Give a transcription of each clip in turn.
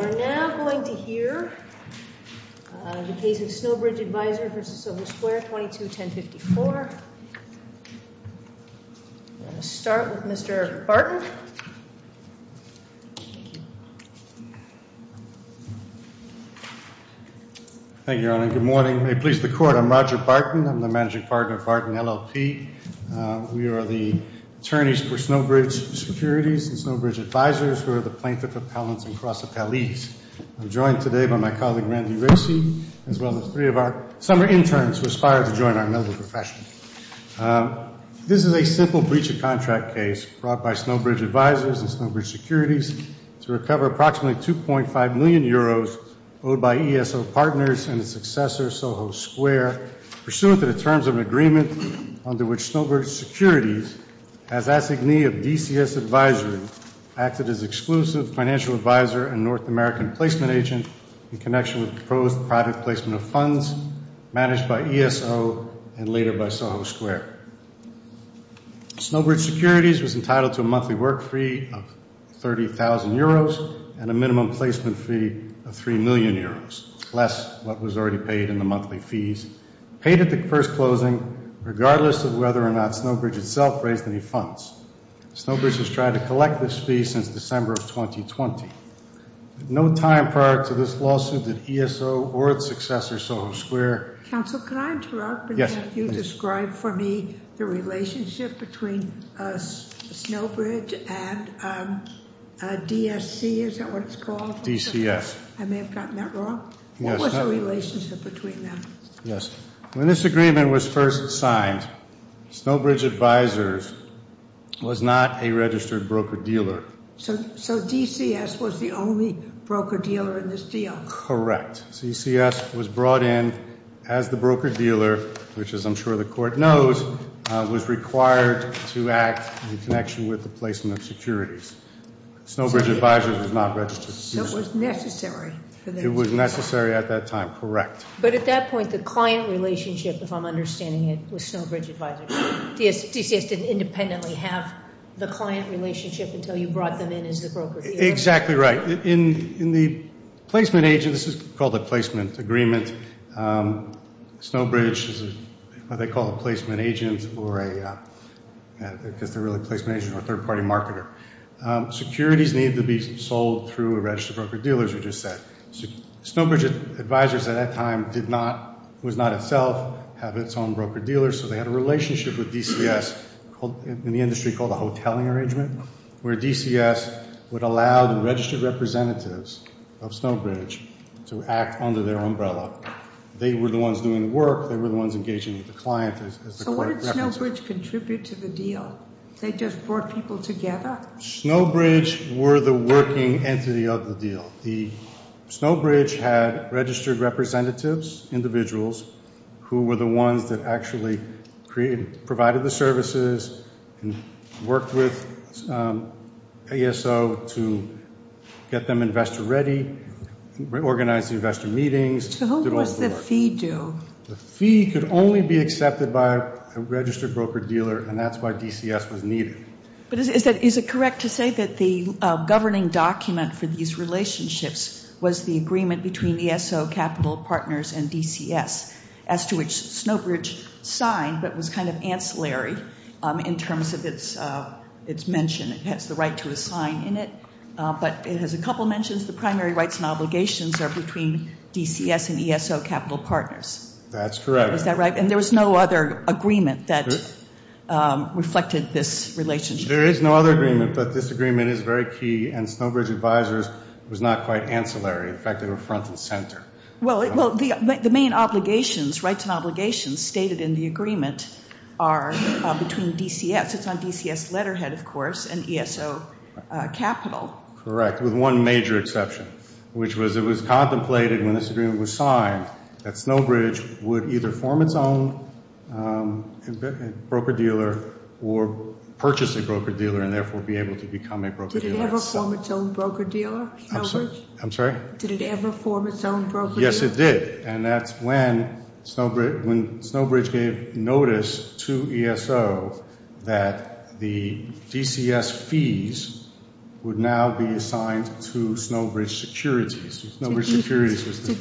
We are now going to hear the case of Snowbridge Advisors v. Silver Square 22-1054. We're going to start with Mr. Barton. Thank you, Your Honor. Good morning. May it please the Court, I'm Roger Barton. I'm the managing partner of Barton LLP. We are the attorneys for Snowbridge Securities and Snowbridge Advisors, who are the plaintiff appellants across the Palis. I'm joined today by my colleague Randy Rasey, as well as three of our summer interns who aspire to join our medical profession. This is a simple breach of contract case brought by Snowbridge Advisors and Snowbridge Securities to recover approximately 2.5 million euros owed by ESO Partners and its successor, Soho Square, pursuant to the terms of an agreement under which Snowbridge Securities, as assignee of DCS Advisory, acted as exclusive financial advisor and North American placement agent in connection with proposed private placement of funds managed by ESO and later by Soho Square. Snowbridge Securities was entitled to a monthly work fee of 30,000 euros and a minimum placement fee of 3 million euros, less what was already paid in the monthly fees paid at the first closing, regardless of whether or not Snowbridge itself raised any funds. Snowbridge has tried to collect this fee since December of 2020. No time prior to this lawsuit did ESO or its successor, Soho Square... Counsel, can I interrupt and have you describe for me the relationship between Snowbridge and DSC, is that what it's called? DCS. I may have gotten that wrong. What was the relationship between them? Yes. When this agreement was first signed, Snowbridge Advisors was not a registered broker-dealer. So DCS was the only broker-dealer in this deal? Correct. DCS was brought in as the broker-dealer, which, as I'm sure the court knows, was required to act in connection with the placement of securities. Snowbridge Advisors was not registered. It was necessary at that time. Correct. But at that point, the client relationship, if I'm understanding it, was Snowbridge Advisors. DCS didn't independently have the client relationship until you brought them in as the broker-dealer? Exactly right. In the placement agent, this is called a placement agreement, Snowbridge is what they call a placement agent, because they're really a placement agent or a third-party marketer. Securities needed to be sold through a registered broker-dealer, as you just said. Snowbridge Advisors at that time did not, was not itself, have its own broker-dealer, so they had a relationship with DCS in the industry called the Hotelling Arrangement, where DCS would allow the registered representatives of Snowbridge to act under their umbrella. They were the ones doing the work, they were the ones engaging with the client. So what did Snowbridge contribute to the deal? They just brought people together? Snowbridge were the working entity of the deal. Snowbridge had registered representatives, individuals, who were the ones that actually provided the services and worked with ASO to get them investor-ready, organized the investor meetings. So who was the fee due? The fee could only be accepted by a registered broker-dealer, and that's why DCS was needed. But is it correct to say that the governing document for these relationships was the agreement between ASO Capital Partners and DCS, as to which Snowbridge signed, but was kind of ancillary in terms of its mention. It has the right to a sign in it, but it has a couple mentions. The primary rights and obligations are between DCS and ASO Capital Partners. That's correct. Is that right? And there was no other agreement that reflected this relationship? There is no other agreement, but this agreement is very key, and Snowbridge Advisors was not quite ancillary. In fact, they were front and center. Well, the main obligations, rights and obligations, stated in the agreement are between DCS. It's on DCS letterhead, of course, and ASO Capital. Correct, with one major exception, which was it was contemplated when this agreement was signed that Snowbridge would either form its own broker-dealer or purchase a broker-dealer and therefore be able to become a broker-dealer. Did it ever form its own broker-dealer, Snowbridge? I'm sorry? Did it ever form its own broker-dealer? Yes, it did, and that's when Snowbridge gave notice to ASO that the DCS fees would now be assigned to Snowbridge Securities. Did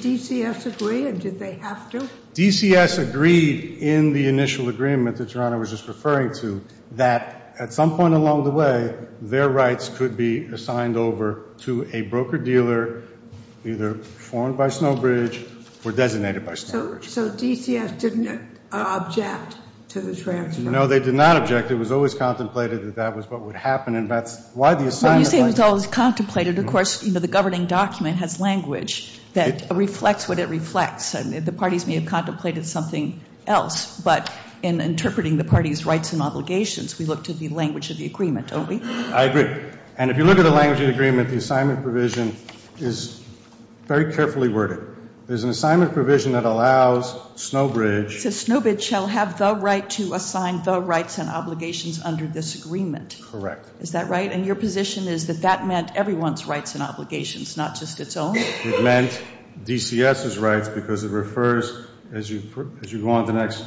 DCS agree, or did they have to? DCS agreed in the initial agreement that Your Honor was just referring to that at some point along the way, their rights could be assigned over to a broker-dealer, either formed by Snowbridge or designated by Snowbridge. So DCS didn't object to the transfer? No, they did not object. It was always contemplated that that was what would happen, and that's why the assignment... When you say it was always contemplated, of course, the governing document has language that reflects what it reflects. The parties may have contemplated something else, but in interpreting the parties' rights and obligations, we look to the language of the agreement. I agree. And if you look at the language of the agreement, the assignment provision is very carefully worded. There's an assignment provision that allows Snowbridge... Is that right? And your position is that that meant everyone's rights and obligations, not just its own? It meant DCS's rights because it refers, as you go on to the next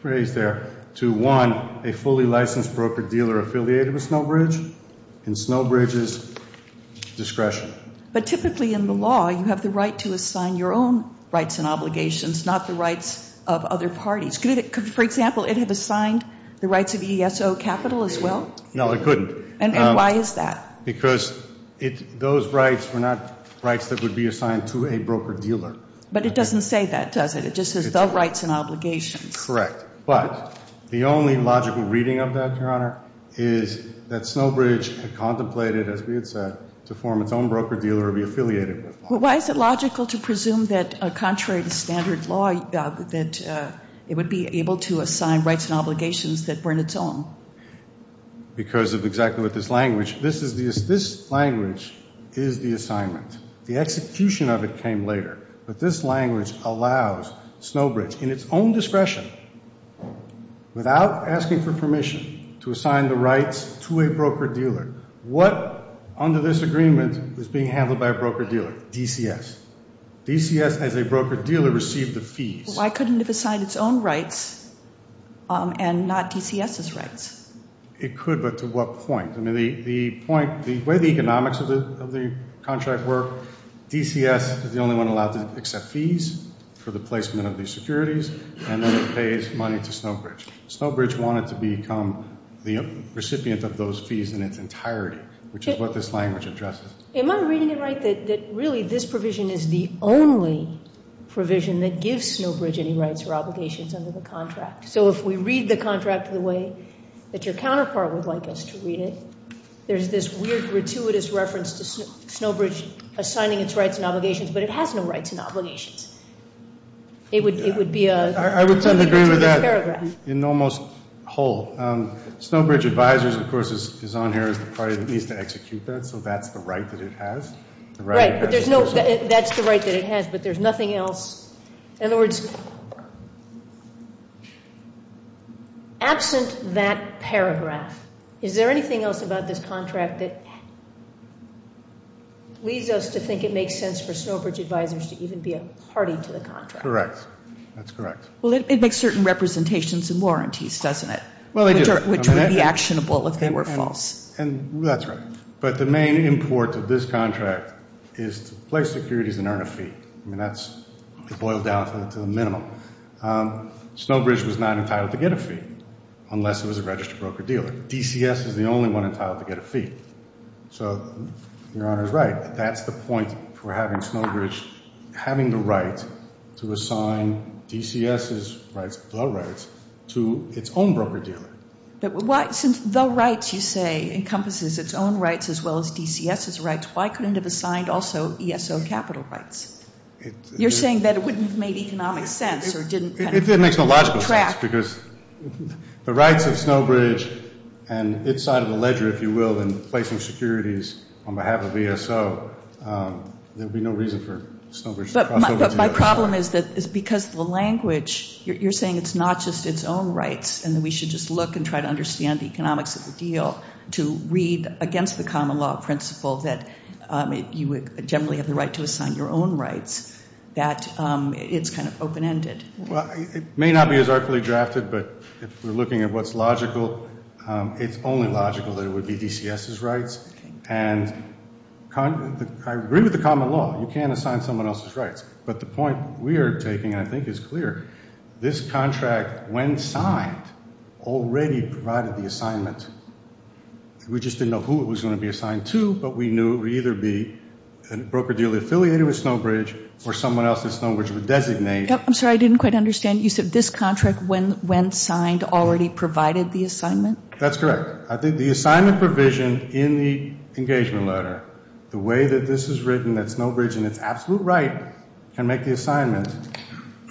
phrase there, to, one, a fully licensed broker-dealer affiliated with Snowbridge and Snowbridge's discretion. But typically in the law, you have the right to assign your own rights and obligations, not the rights of other parties. For example, it had assigned the rights of ESO Capital as well? No, it couldn't. And why is that? Because those rights were not rights that would be assigned to a broker-dealer. But it doesn't say that, does it? It just says the rights and obligations. Correct. But the only logical reading of that, Your Honor, is that Snowbridge contemplated, as we had said, to form its own broker-dealer and be affiliated with them. But why is it logical to presume that, contrary to standard law, that it would be able to assign rights and obligations that weren't its own? Because of exactly what this language... This language is the assignment. The execution of it came later. But this language allows Snowbridge, in its own discretion, without asking for permission, to assign the rights to a broker-dealer, DCS. DCS, as a broker-dealer, received the fees. Why couldn't it have assigned its own rights and not DCS's rights? It could, but to what point? The way the economics of the contract work, DCS is the only one allowed to accept fees for the placement of these securities, and then it pays money to Snowbridge. Snowbridge wanted to become the only broker-dealer in the United States. So if we read the contract the way that your counterpart would like us to read it, there's this weird, gratuitous reference to Snowbridge assigning its rights and obligations, but it has no rights and obligations. It would be a... I would tend to agree with that in almost whole. Snowbridge Advisors, of course, is on here as the party that needs to execute that, so that's the right that it has. Right. That's the right that it has, but there's nothing else. In other words, absent that paragraph, is there anything else about this contract that leads us to think it makes sense for Snowbridge Advisors to even be a party to the contract? Correct. That's correct. Well, it makes certain representations and warranties, doesn't it? Well, it does. Which would be actionable if they were false. That's right. But the main import of this contract is to place securities and earn a fee. I mean, that's boiled down to the minimum. Snowbridge was not entitled to get a fee unless it was a registered broker-dealer. DCS is the only one entitled to get a fee. So, your Honor is right. That's the point for having Snowbridge having the right to assign DCS's rights, the rights, to its own broker-dealer. Since the rights, you say, encompasses its own rights as well as DCS's rights, why couldn't it have assigned also ESO capital rights? You're saying that it wouldn't have made economic sense or didn't kind of track... It makes no logical sense because the rights of Snowbridge and its side of the ledger, if you will, in placing securities on behalf of ESO, there would be no reason for Snowbridge to cross over to ESO. But my problem is that because the language, you're saying it's not just its own rights and that we should just look and try to understand the economics of the deal to read against the common law principle that you would generally have the right to assign your own rights, that it's kind of logical, it's only logical that it would be DCS's rights, and I agree with the common law. You can't assign someone else's rights. But the point we are taking, I think, is clear. This contract, when signed, already provided the assignment. We just didn't know who it was going to be assigned to, but we knew it would either be a broker-dealer affiliated with Snowbridge or someone else that Snowbridge would designate. I'm sorry, I didn't quite understand. You said this contract, when signed, already provided the assignment? That's correct. I think the assignment provision in the engagement letter, the way that this is written that Snowbridge in its absolute right can make the assignment,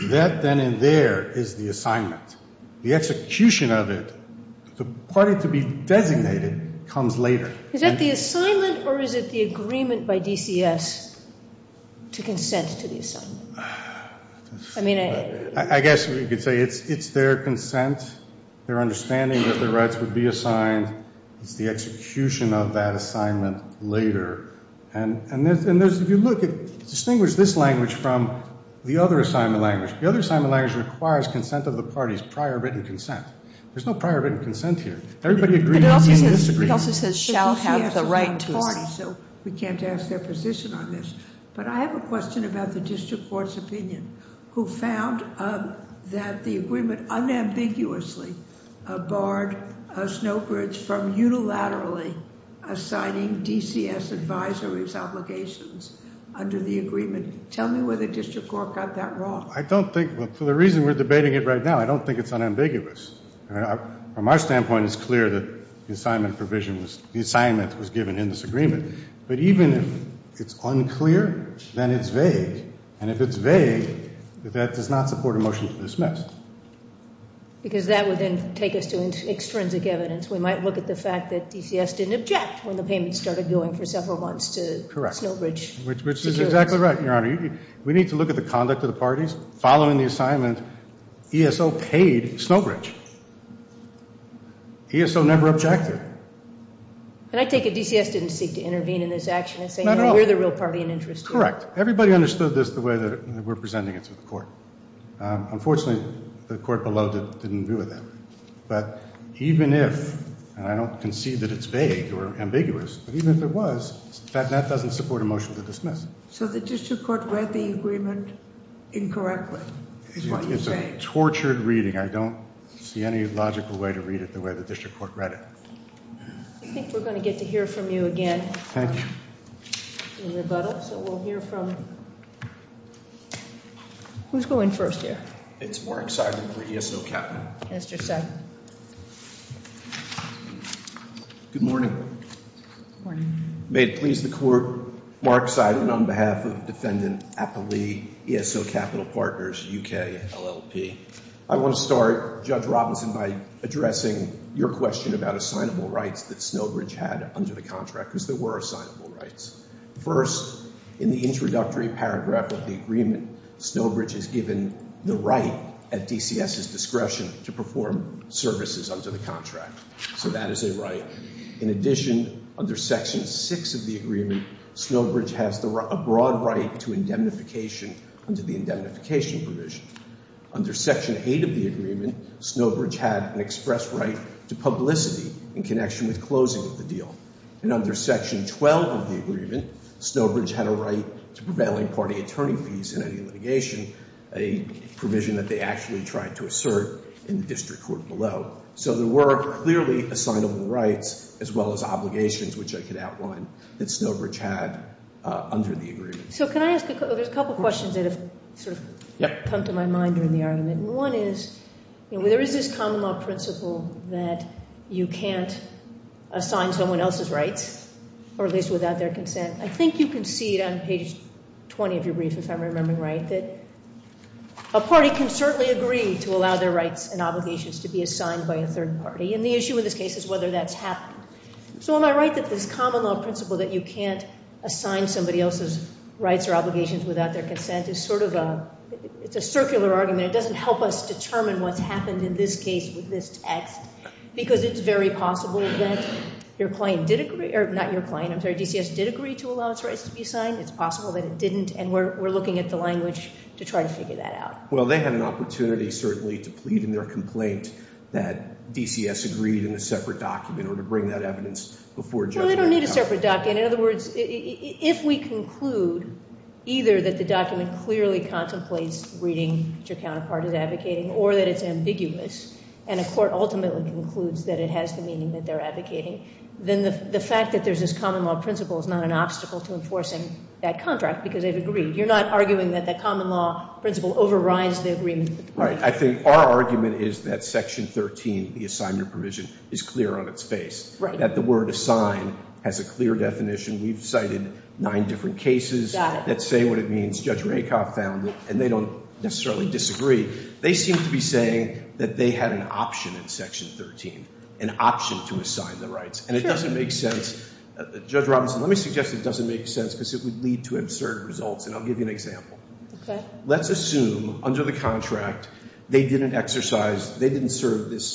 that then and there is the assignment. The execution of it, the party to be designated comes later. Is that the assignment or is it the agreement by DCS to consent to the assignment? I guess you could say it's their consent, their understanding that their rights would be assigned. It's the execution of that assignment later. And if you look, distinguish this language from the other assignment language. The other assignment language requires consent of the party's prior written consent. There's no prior written consent here. It also says shall have the right to. We can't ask their position on this, but I have a question about the district court's opinion who found that the agreement unambiguously barred Snowbridge from unilaterally assigning DCS advisory's obligations under the agreement. Tell me where the district court got that wrong. I don't think, for the reason we're debating it right now, I don't think it's unambiguous. From our standpoint, it's clear that the assignment provision was, the assignment was given in this agreement. But even if it's unclear, then it's vague. And if it's vague, that does not support a motion to dismiss. Because that would then take us to extrinsic evidence. We might look at the fact that DCS didn't object when the payments started going for several months to Snowbridge. Correct. Which is exactly right, Your Honor. We need to look at the conduct of the parties following the assignment. ESO paid Snowbridge. ESO never objected. And I take it DCS didn't seek to intervene in this action in saying we're the real party in interest here. Correct. Everybody understood this the way that we're presenting it to the court. Unfortunately, the court below didn't agree with that. But even if, and I don't concede that it's vague or ambiguous, but even if it was, that doesn't support a motion to dismiss. So the district court read the agreement incorrectly. It's a tortured reading. I don't see any logical way to read it the way the district court read it. I think we're going to get to hear from you again. Thank you. In rebuttal. So we'll hear from, who's going first here? It's Mark Seidman for ESO Capital. Mr. Seidman. Good morning. Good morning. May it please the court. Mark Seidman on behalf of Defendant Appley, ESO Capital Partners, UK, LLP. I want to start, Judge Robinson, by addressing your question about assignable rights that Snowbridge had under the contract, because there were assignable rights. First, in the introductory paragraph of the agreement, Snowbridge has given the right at DCS's discretion to perform services under the contract. So that is a right. In addition, under Section 6 of the agreement, Snowbridge has a broad right to indemnification under the indemnification provision. Under Section 8 of the agreement, Snowbridge had an express right to prevailing party attorney fees in any litigation, a provision that they actually tried to assert in the district court below. So there were clearly assignable rights, as well as obligations, which I could outline, that Snowbridge had under the agreement. So can I ask, there's a couple of questions that have sort of come to my mind during the argument. One is, there is this common law principle that you can't assign someone else's rights, or at least without their consent. I think you can see it on page 20 of your brief, if I'm remembering right, that a party can certainly agree to allow their rights and obligations to be assigned by a third party. And the issue in this case is whether that's happened. So am I right that this common law principle that you can't assign somebody else's rights or obligations without their consent is sort of a, it's a circular argument. It doesn't help us determine what's your client did agree, or not your client, I'm sorry, DCS did agree to allow its rights to be assigned. It's possible that it didn't, and we're looking at the language to try to figure that out. Well, they had an opportunity, certainly, to plead in their complaint that DCS agreed in a separate document or to bring that evidence before judgment. Well, they don't need a separate document. In other words, if we conclude either that the document clearly contemplates reading which your counterpart is advocating, or that it's ambiguous, and a court ultimately concludes that it has the meaning that they're advocating, then the fact that there's this common law principle is not an obstacle to enforcing that contract, because they've agreed. You're not arguing that that common law principle overrides the agreement. Right. I think our argument is that section 13, the assignment provision, is clear on its face, that the word assign has a clear definition. We've cited nine different cases that say what it means. Judge Rakoff found it, and they don't necessarily disagree. They seem to be saying that they had an option in section 13, an option to assign the rights, and it doesn't make sense. Judge Robinson, let me suggest it doesn't make sense, because it would lead to absurd results, and I'll give you an example. Let's assume, under the contract, they didn't exercise, they didn't serve this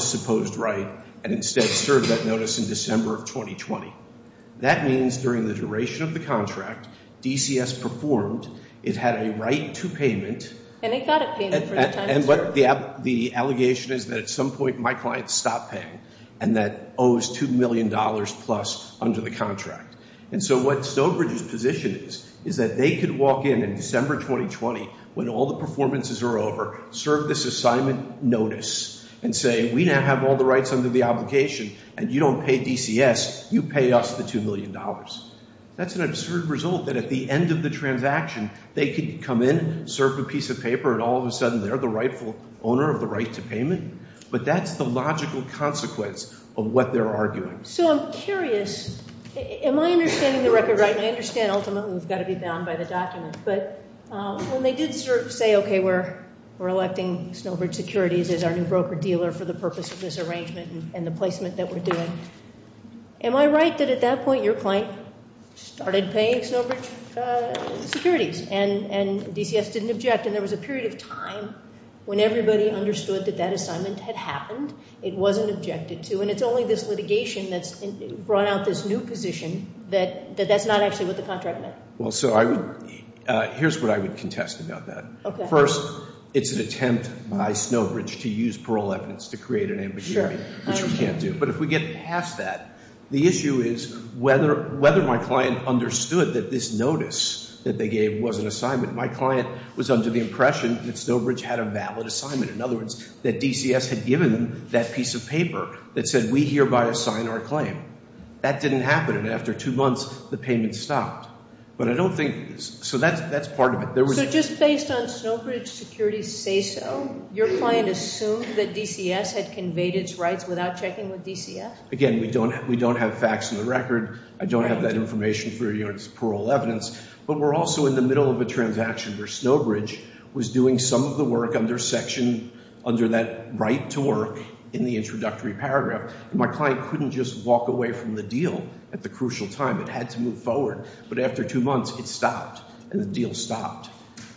supposed right, and instead served that notice in December of 2020. That means during the duration of the contract, DCS performed, it had a right to payment. And it got a payment. And what the allegation is that at some point my client stopped paying, and that owes $2 million plus under the contract. And so what Snowbridge's position is, is that they could walk in in December 2020 when all the performances are over, serve this assignment notice, and say, we now have all the rights under the obligation, and you don't pay DCS, you pay us the $2 million. That's an absurd result that at the end of the transaction, they could come in, serve a piece of paper, and all of a sudden they're the rightful owner of the right to payment. But that's the logical consequence of what they're arguing. So I'm curious, am I I did say, okay, we're electing Snowbridge Securities as our new broker-dealer for the purpose of this arrangement and the placement that we're doing. Am I right that at that point your client started paying Snowbridge Securities, and DCS didn't object, and there was a period of time when everybody understood that that assignment had happened, it wasn't objected to, and it's only this litigation that's brought out this new position that that's not actually what the contract meant? Well, so I would, here's what I would contest about that. First, it's an attempt by Snowbridge to use parole evidence to create an ambition, which we can't do. But if we get past that, the issue is whether my client understood that this notice that they gave was an assignment. My client was under the impression that Snowbridge had a valid assignment. In other words, that DCS had given that piece of paper that said, we hereby assign our claim. That didn't happen, and after two months, the payment stopped. But I don't think, so that's part of it. So just based on Snowbridge Securities' say-so, your client assumed that DCS had conveyed its rights without checking with DCS? Again, we don't have facts in the record. I don't have that information for your parole evidence. But we're also in the middle of a transaction where Snowbridge was doing some of the work under section, under that right to work in the introductory paragraph. My client couldn't just walk away from the deal at the crucial time. It had to move forward. But after two months, it stopped, and the deal stopped.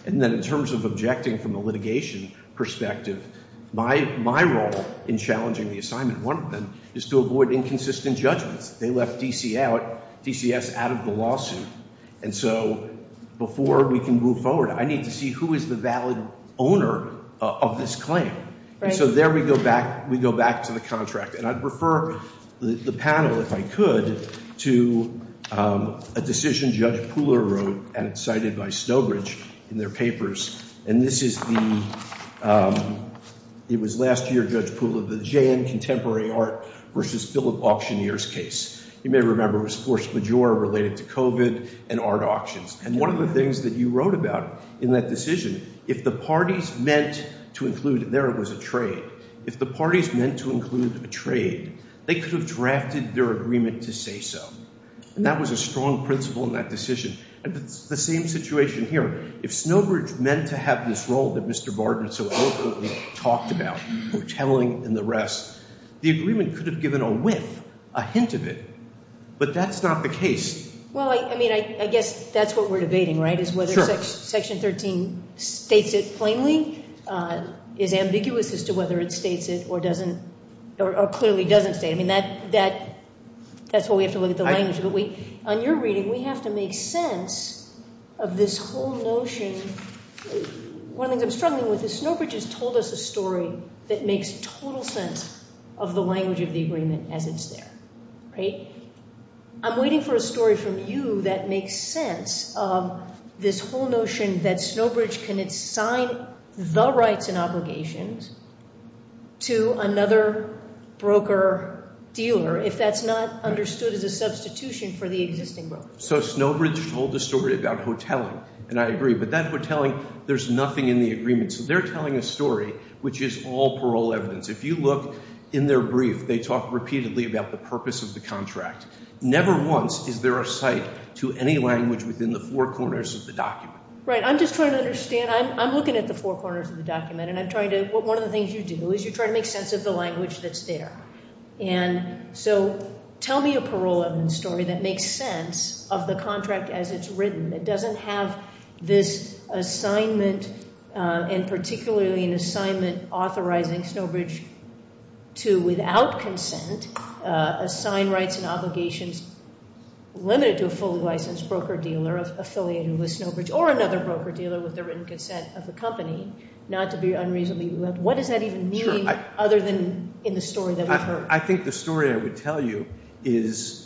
And then in terms of objecting from a litigation perspective, my role in challenging the assignment, one of them, is to avoid inconsistent judgments. They left DCS out of the lawsuit. And so before we can move forward, I need to see who is the valid owner of this claim. And so there we go back, we go back to the contract. And I'd refer the panel, if I could, to a decision Judge Pooler wrote and cited by Snowbridge in their papers. And this is the, it was last year, Judge Pooler, the J.N. Contemporary Art v. Philip Auctioneer's case. You may remember it was Force Majeure related to COVID and art auctions. And one of the things that you wrote about in that decision, if the parties meant to include, there was a trade, if the parties meant to include a trade, they could have drafted their agreement to say so. And that was a strong principle in that decision. And it's the same situation here. If Snowbridge meant to have this role that Mr. Barton so eloquently talked about, the telling and the rest, the agreement could have given a whiff, a hint of it. But that's not the case. Well, I mean, I guess that's what we're debating, right, is whether Section 13 states it plainly, is ambiguous as to whether it states it or doesn't, or clearly doesn't state it. I mean, that's what we have to look at the language. But we, on your reading, we have to make sense of this whole notion. One of the things I'm struggling with is Snowbridge has told us a story that makes total sense of the language of the agreement as it's there. I'm waiting for a story from you that makes sense of this whole notion that Snowbridge can assign the rights and obligations to another broker dealer if that's not understood as a substitution for the existing broker. So Snowbridge told a story about hoteling. And I agree. But that hoteling, there's nothing in the agreement. So they're telling a story which is all parole evidence. If you look in their brief, they talk repeatedly about the purpose of the contract. Never once is there a cite to any language within the four corners of the document. Right. I'm just trying to understand. I'm And so tell me a parole evidence story that makes sense of the contract as it's written. It doesn't have this assignment and particularly an assignment authorizing Snowbridge to without consent assign rights and obligations limited to a fully licensed broker dealer affiliated with Snowbridge or another broker dealer with the written consent of the company not to be unreasonably. What does that even mean other than in the story that we've heard? I think the story I would tell you is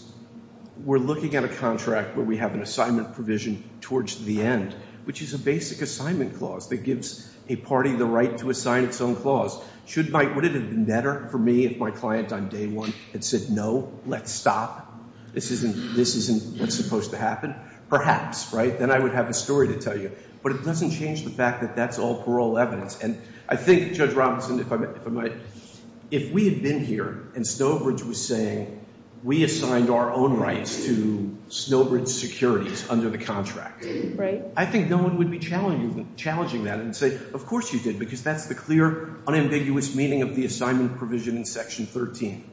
we're looking at a contract where we have an assignment provision towards the end, which is a basic assignment clause that gives a party the right to assign its own clause. Would it have been better for me if my client on day one had said, no, let's stop. This isn't what's supposed to happen. Perhaps. Right. Then I would have a story to tell you. But it doesn't change the fact that that's all parole evidence. And I think Judge Robinson, if I might, if we had been here and Snowbridge was saying we assigned our own rights to Snowbridge securities under the contract, I think no one would be challenging that and say, of course you did, because that's the clear unambiguous meaning of the assignment provision in Section 13.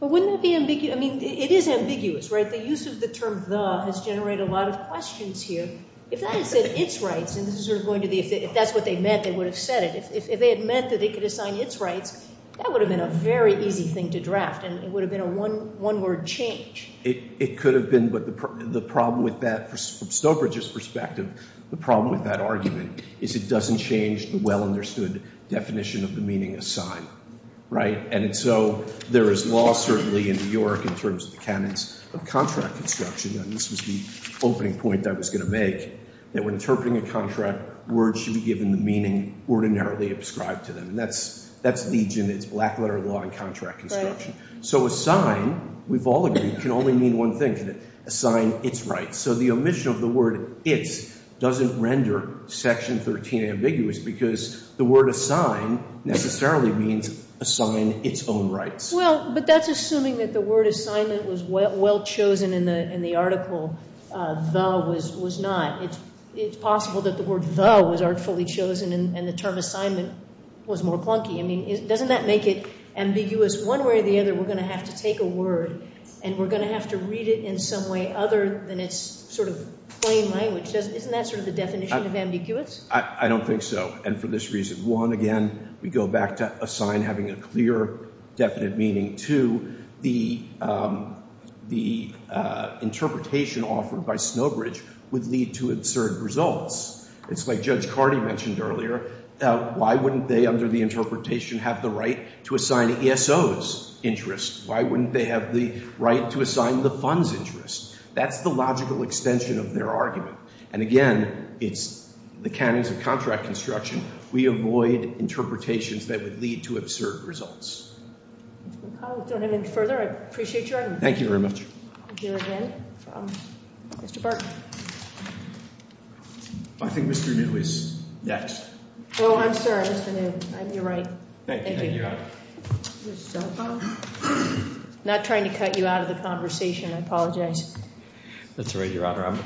But wouldn't that be ambiguous? I mean, it is ambiguous, right? The use of the term the has generated a lot of questions here. If that had said its rights, and this is sort of going to be, if that's what they meant, they would have said it. If they had meant that they could assign its rights, that would have been a very easy thing to draft and it would have been a one word change. It could have been, but the problem with that from Snowbridge's perspective, the problem with that argument is it doesn't change the well understood definition of the meaning assigned, right? And so there is law certainly in New York in terms of the canons of contract construction, and this was the opening point I was going to make, that when interpreting a contract, words should be given the meaning ordinarily ascribed to them. And that's legion, it's black letter law in contract construction. So assign, we've all agreed, can only mean one thing, assign its rights. So the word assign necessarily means assign its own rights. Well, but that's assuming that the word assignment was well chosen in the article, the was not. It's possible that the word the was artfully chosen and the term assignment was more clunky. I mean, doesn't that make it ambiguous? One way or the other we're going to have to take a word and we're going to have to read it in some way other than its sort of plain language. Isn't that sort of the definition of ambiguous? I don't think so. And for this reason, one, again, we go back to assign having a clear definite meaning. Two, the interpretation offered by Snowbridge would lead to absurd results. It's like Judge Cardi mentioned earlier, why wouldn't they under the interpretation have the right to assign ESO's interest? Why wouldn't they have the right to assign the fund's interest? That's the logical extension of their argument. And again, it's the canons of contract construction. We avoid interpretations that would lead to absurd results. I don't have any further. I appreciate your argument. Thank you very much. I think Mr. New is next. Oh, I'm sorry, Mr. New. You're right. Thank you. Not trying to cut you out of the conversation. I apologize. That's all right, Your Honor.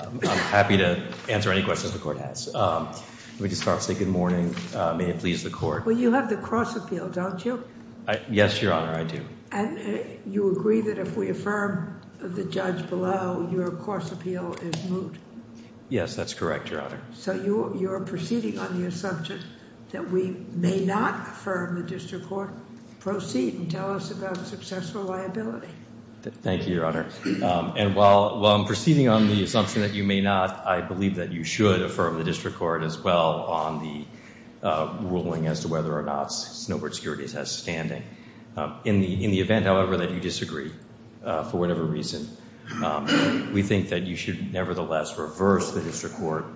I'm happy to answer any questions the court has. Let me just say good morning. May it please the court. Well, you have the cross appeal, don't you? Yes, Your Honor, I do. And you agree that if we affirm the judge below, your cross appeal is moot. Yes, that's correct, Your Honor. So you're proceeding on the assumption that we may not affirm the district court. Proceed and tell us about successful liability. Thank you, Your Honor. And while I'm proceeding on the assumption that you may not, I believe that you should affirm the district court as well on the ruling as to whether or not Snowbridge Securities has standing. In the event, however, that you disagree for whatever reason, we think that you should nevertheless reverse the district court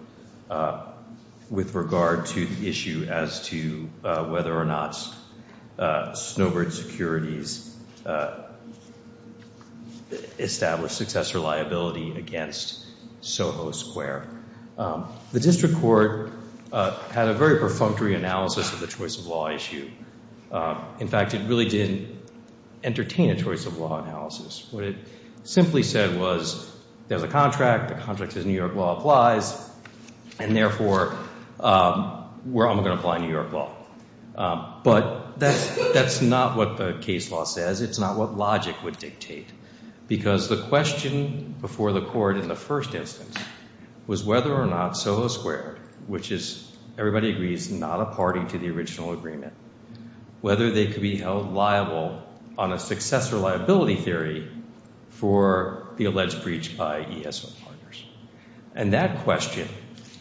with regard to the issue as to whether or not Snowbridge Securities established successor liability against SoHo Square. The district court had a very perfunctory analysis of the choice of law issue. In fact, it really didn't entertain a choice of law analysis. What it simply said was there's a contract, the contract says New York law applies, and therefore where am I going to apply New York law? But that's not what the case law says. It's not what logic would dictate. Because the question before the court in the first instance was whether or not SoHo Square, which is, everybody agrees, not a party to the original agreement, whether they could be held liable on a successor liability theory for the alleged breach by ESO partners. And that question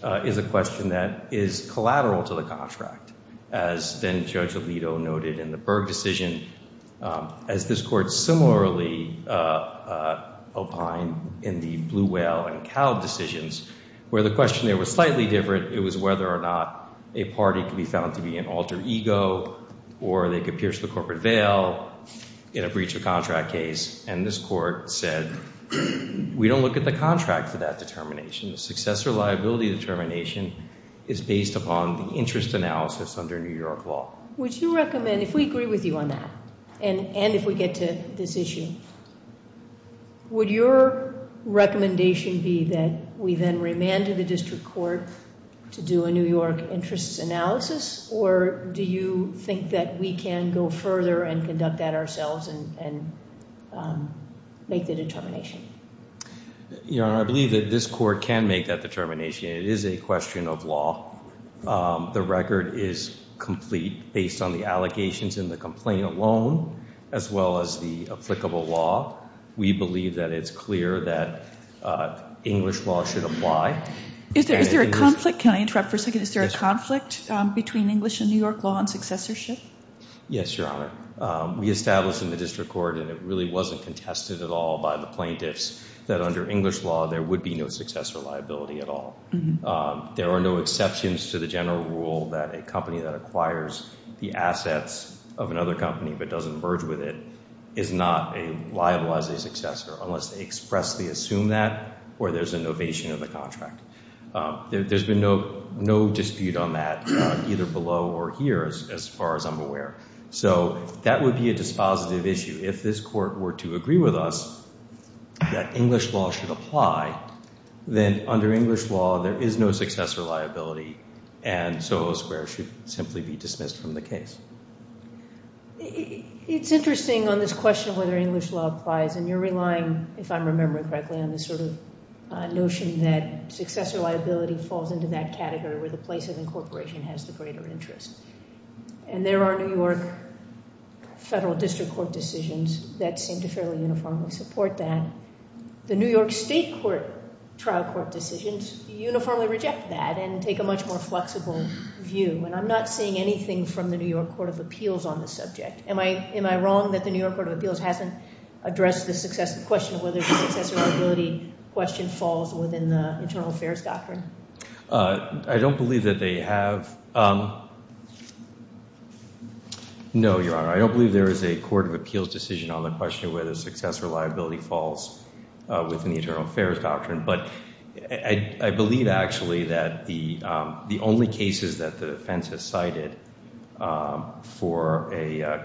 is a question that is collateral to the contract, as then Judge Alito noted in the Berg decision, as this court similarly opined in the Blue Whale and Cow decisions, where the question there was slightly different. It was whether or not a party could be found to be an alter ego or they could pierce the corporate veil in a breach of contract case. And this court said we don't look at the contract for that determination. The successor liability determination is based upon the interest analysis under New York law. Would you recommend, if we agree with you on that, and if we get to this issue, would your recommendation be that we then remand to the district court to do a New York interest analysis? Or do you think that we can go further and conduct that ourselves and make the determination? Your Honor, I believe that this court can make that determination. It is a question of law. The record is complete based on the allegations in the complaint alone, as well as the applicable law. We believe that it's clear that English law should apply. Is there a conflict? Can I interrupt for a second? Is there a conflict between English and New York law on successorship? Yes, Your Honor. We established in the district court, and it really wasn't contested at all by the plaintiffs, that under English law there would be no successor liability at all. There are no exceptions to the general rule that a company that acquires the assets of another company but doesn't merge with it is not liable as a successor unless they expressly assume that or there's a novation of the contract. There's been no dispute on that either below or here as far as I'm aware. So that would be a dispositive issue. If this court were to agree with us that English law should apply, then under English law there is no successor liability and Soho Square should simply be dismissed from the case. It's interesting on this question of whether English law applies, and you're relying, if I'm remembering correctly, on this sort of notion that successor liability falls into that category where the place of incorporation has the greater interest. And there are New York federal district court decisions that seem to fairly uniformly support that. The New York state trial court decisions uniformly reject that and take a much more flexible view. And I'm not seeing anything from the New York Court of Appeals on this subject. Am I wrong that the New York Court of Appeals hasn't addressed the question of whether the successor liability question falls within the internal affairs doctrine? I don't believe that they have. No, Your Honor. I don't believe there is a court of appeals decision on the question of whether successor liability falls within the internal affairs doctrine. But I believe actually that the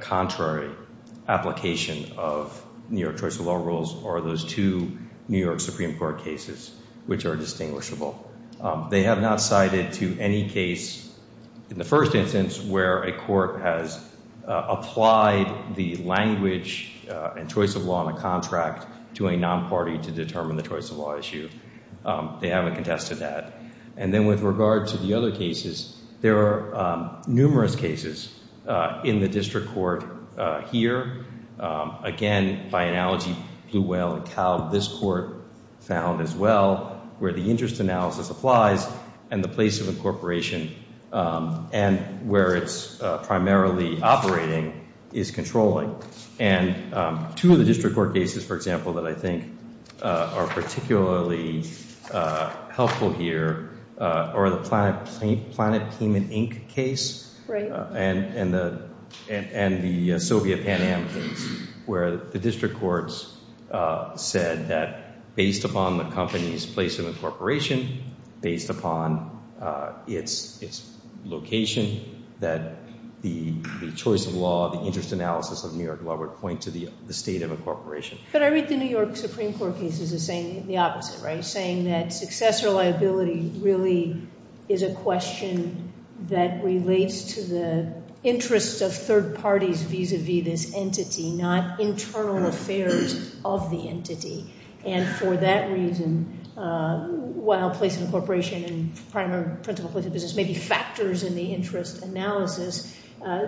contrary application of New York choice of law rules are those two New York Supreme Court cases which are distinguishable. They have not cited to any case in the first instance where a court has applied the language and choice of law in a contract to a non-party to determine the choice of law issue. They haven't contested that. And then with regard to the other cases, there are numerous cases in the district court here. Again, by analogy, Blue Whale and Cald, this court found as well where the interest analysis applies and the place of incorporation and where it's primarily operating is controlling. And two of the district court cases, for example, that I think are particularly helpful here are the Planet Payment, Inc. case and the Soviet Pan Am case where the district courts said that based upon the company's place of incorporation, based upon its location, that the choice of law, the interest analysis of New York law would point to the state of incorporation. But I read the New York Supreme Court cases as saying the opposite, right? Saying that successor liability really is a question that relates to the interest of third parties vis-a-vis this entity, not internal affairs of the entity. And for that reason, while place of incorporation and primary place of business may be factors in the interest analysis,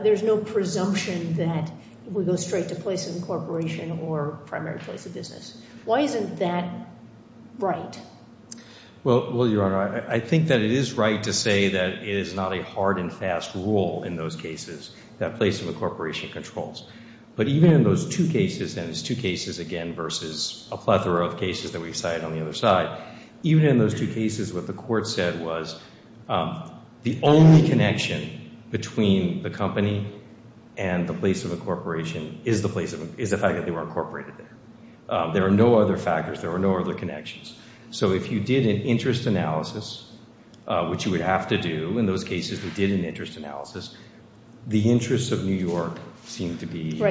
there's no presumption that it would go straight to place of incorporation or primary place of business. Why isn't that right? Well, Your Honor, I think that it is right to say that it is not a hard and fast rule in those cases that place of incorporation controls. But even in those two cases, and it's two cases again versus a plethora of cases that we cited on the other side, even in those two cases what the court said was the only connection between the company and the place of incorporation is the fact that they were incorporated there. There are no other factors. There are no other connections. So if you did an interest analysis, which you would have to do in those cases that did an interest analysis, the interest of New York, here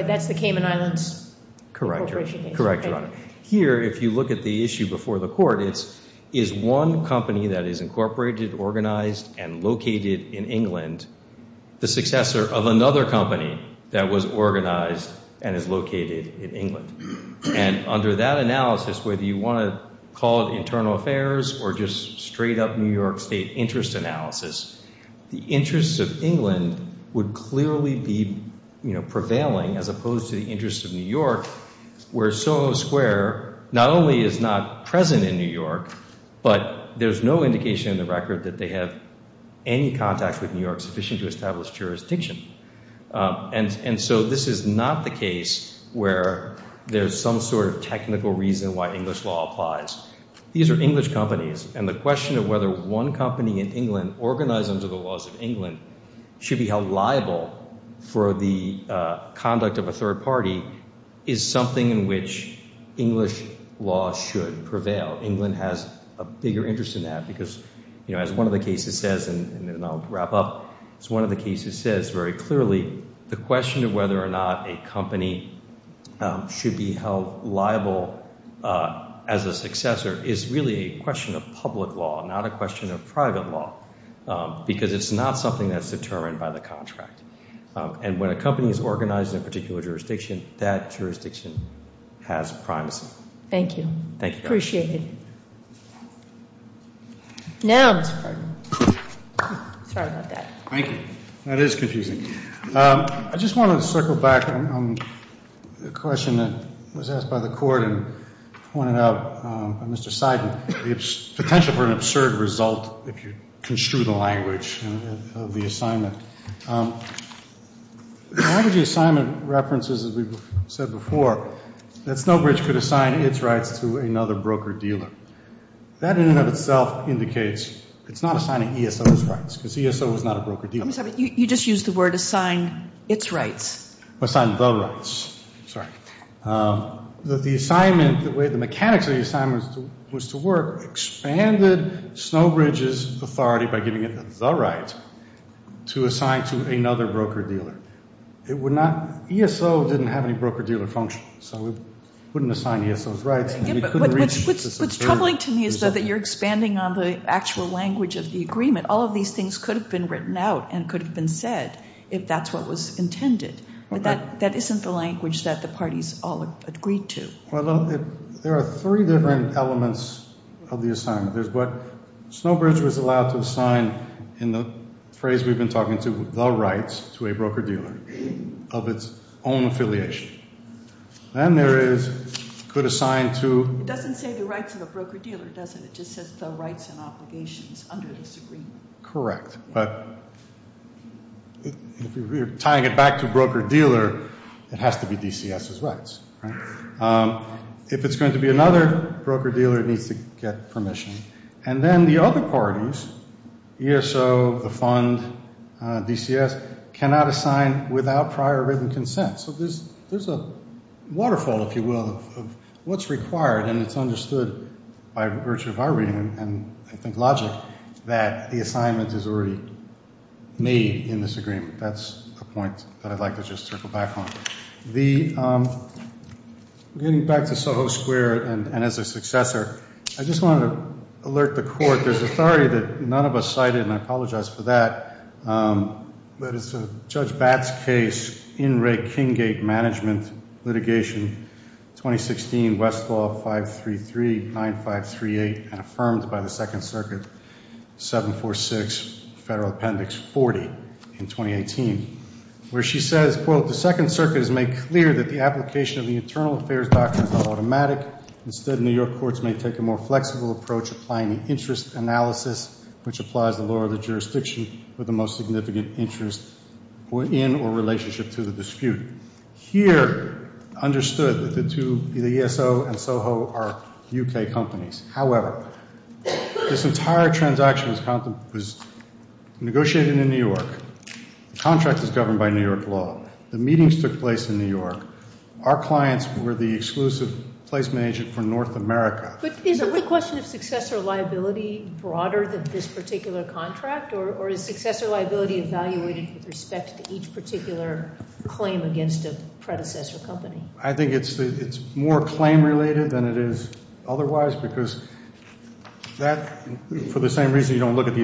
if you look at the issue before the court, it's one company that is incorporated, organized, and located in England, the successor of another company that was organized and is located in England. And under that analysis, whether you want to call it internal affairs or just straight up New York State interest analysis, the interests of England would clearly be where not only is not present in New York, but there's no indication in the record that they have any contact with New York sufficient to establish jurisdiction. And so this is not the case where there's some sort of technical reason why English law applies. These are English companies, and the question of whether one company in England, organized under the laws of England, should be held liable for the conduct of a third party is something in which English law should prevail. England has a bigger interest in that because as one of the cases says, and then I'll wrap up, as one of the cases says very clearly, the question of whether or not a company should be held liable as a successor is really a question of public law, not a question of private law, because it's not something that's determined by the contract. And when a company is organized in a particular jurisdiction, that jurisdiction has primacy. Thank you. Appreciate it. Now, Mr. Cardin. Sorry about that. Thank you. That is confusing. I just want to circle back on the question that was asked by the court and pointed out by Mr. Seidman, the potential for an absurd result if you construe the language of the assignment. The language of the assignment references, as we've said before, that Snowbridge could assign its rights to another broker-dealer. That in and of itself indicates it's not assigning ESO's rights, because ESO is not a broker-dealer. You just used the word assign its rights. Assign the rights. Sorry. The assignment, the way the mechanics of the assignment was to work, expanded Snowbridge's authority by giving it the right to assign to another broker-dealer. It would not, ESO didn't have any broker-dealer functions, so it wouldn't assign ESO's rights. What's troubling to me is that you're expanding on the actual language of the agreement. All of these things could have been written out and could have been said if that's what was intended. But that isn't the language that the parties all agreed to. Well, there are three different elements of the assignment. There's what Snowbridge was allowed to assign in the phrase we've been talking to, the rights to a broker-dealer of its own affiliation. Then there is what it could assign to... It doesn't say the rights of a broker-dealer, does it? It just says the rights and obligations under this agreement. Correct. But tying it back to broker-dealer, it has to be DCS's rights. If it's going to be another broker-dealer, it needs to get permission. And then the other parties, ESO, the fund, DCS, cannot assign without prior written consent. So there's a waterfall, if you will, of what's required, and it's understood by virtue of our reading, and I think logic, that the assignment is already made in this agreement. That's a point that I'd like to just circle back on. Getting back to Soho Square and as a successor, I just want to alert the Court. There's one of us cited, and I apologize for that, but it's Judge Batt's case in Ray Kinggate Management Litigation, 2016, Westlaw 533-9538, and affirmed by the Second Circuit, 746, Federal Appendix 40, in 2018, where she says, quote, The Second Circuit has made clear that the application of the Internal Affairs Doctrine is not automatic. Instead, New York courts may take a more flexible approach, applying the interest analysis, which applies the law of the jurisdiction with the most significant interest in or relationship to the dispute. Here, understood that the ESO and Soho are U.K. companies. However, this entire transaction was negotiated in New York. The contract is governed by New York law. The meetings took place in New York. Our clients were the exclusive placement agent for North America. But is the question of successor liability broader than this particular contract, or is successor liability evaluated with respect to each particular claim against a predecessor company? I think it's more claim-related than it is otherwise, because that, for the same reason you don't look at the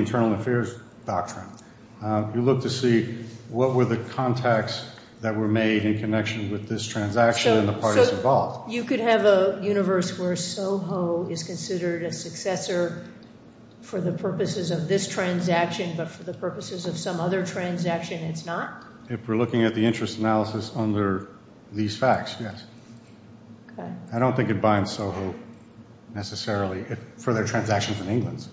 facts that were made in connection with this transaction and the parties involved. You could have a universe where Soho is considered a successor for the purposes of this transaction, but for the purposes of some other transaction, it's not? If we're looking at the interest analysis under these facts, yes. I don't think it binds Soho, necessarily, for their transactions in England.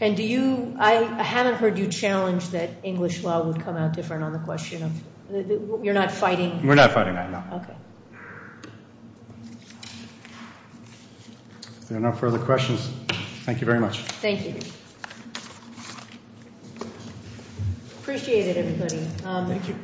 And do you, I haven't heard you challenge that English law would come out different on the question of, you're not fighting? We're not fighting that, no. If there are no further questions, thank you very much. Thank you. Appreciate it, everybody. Thank you.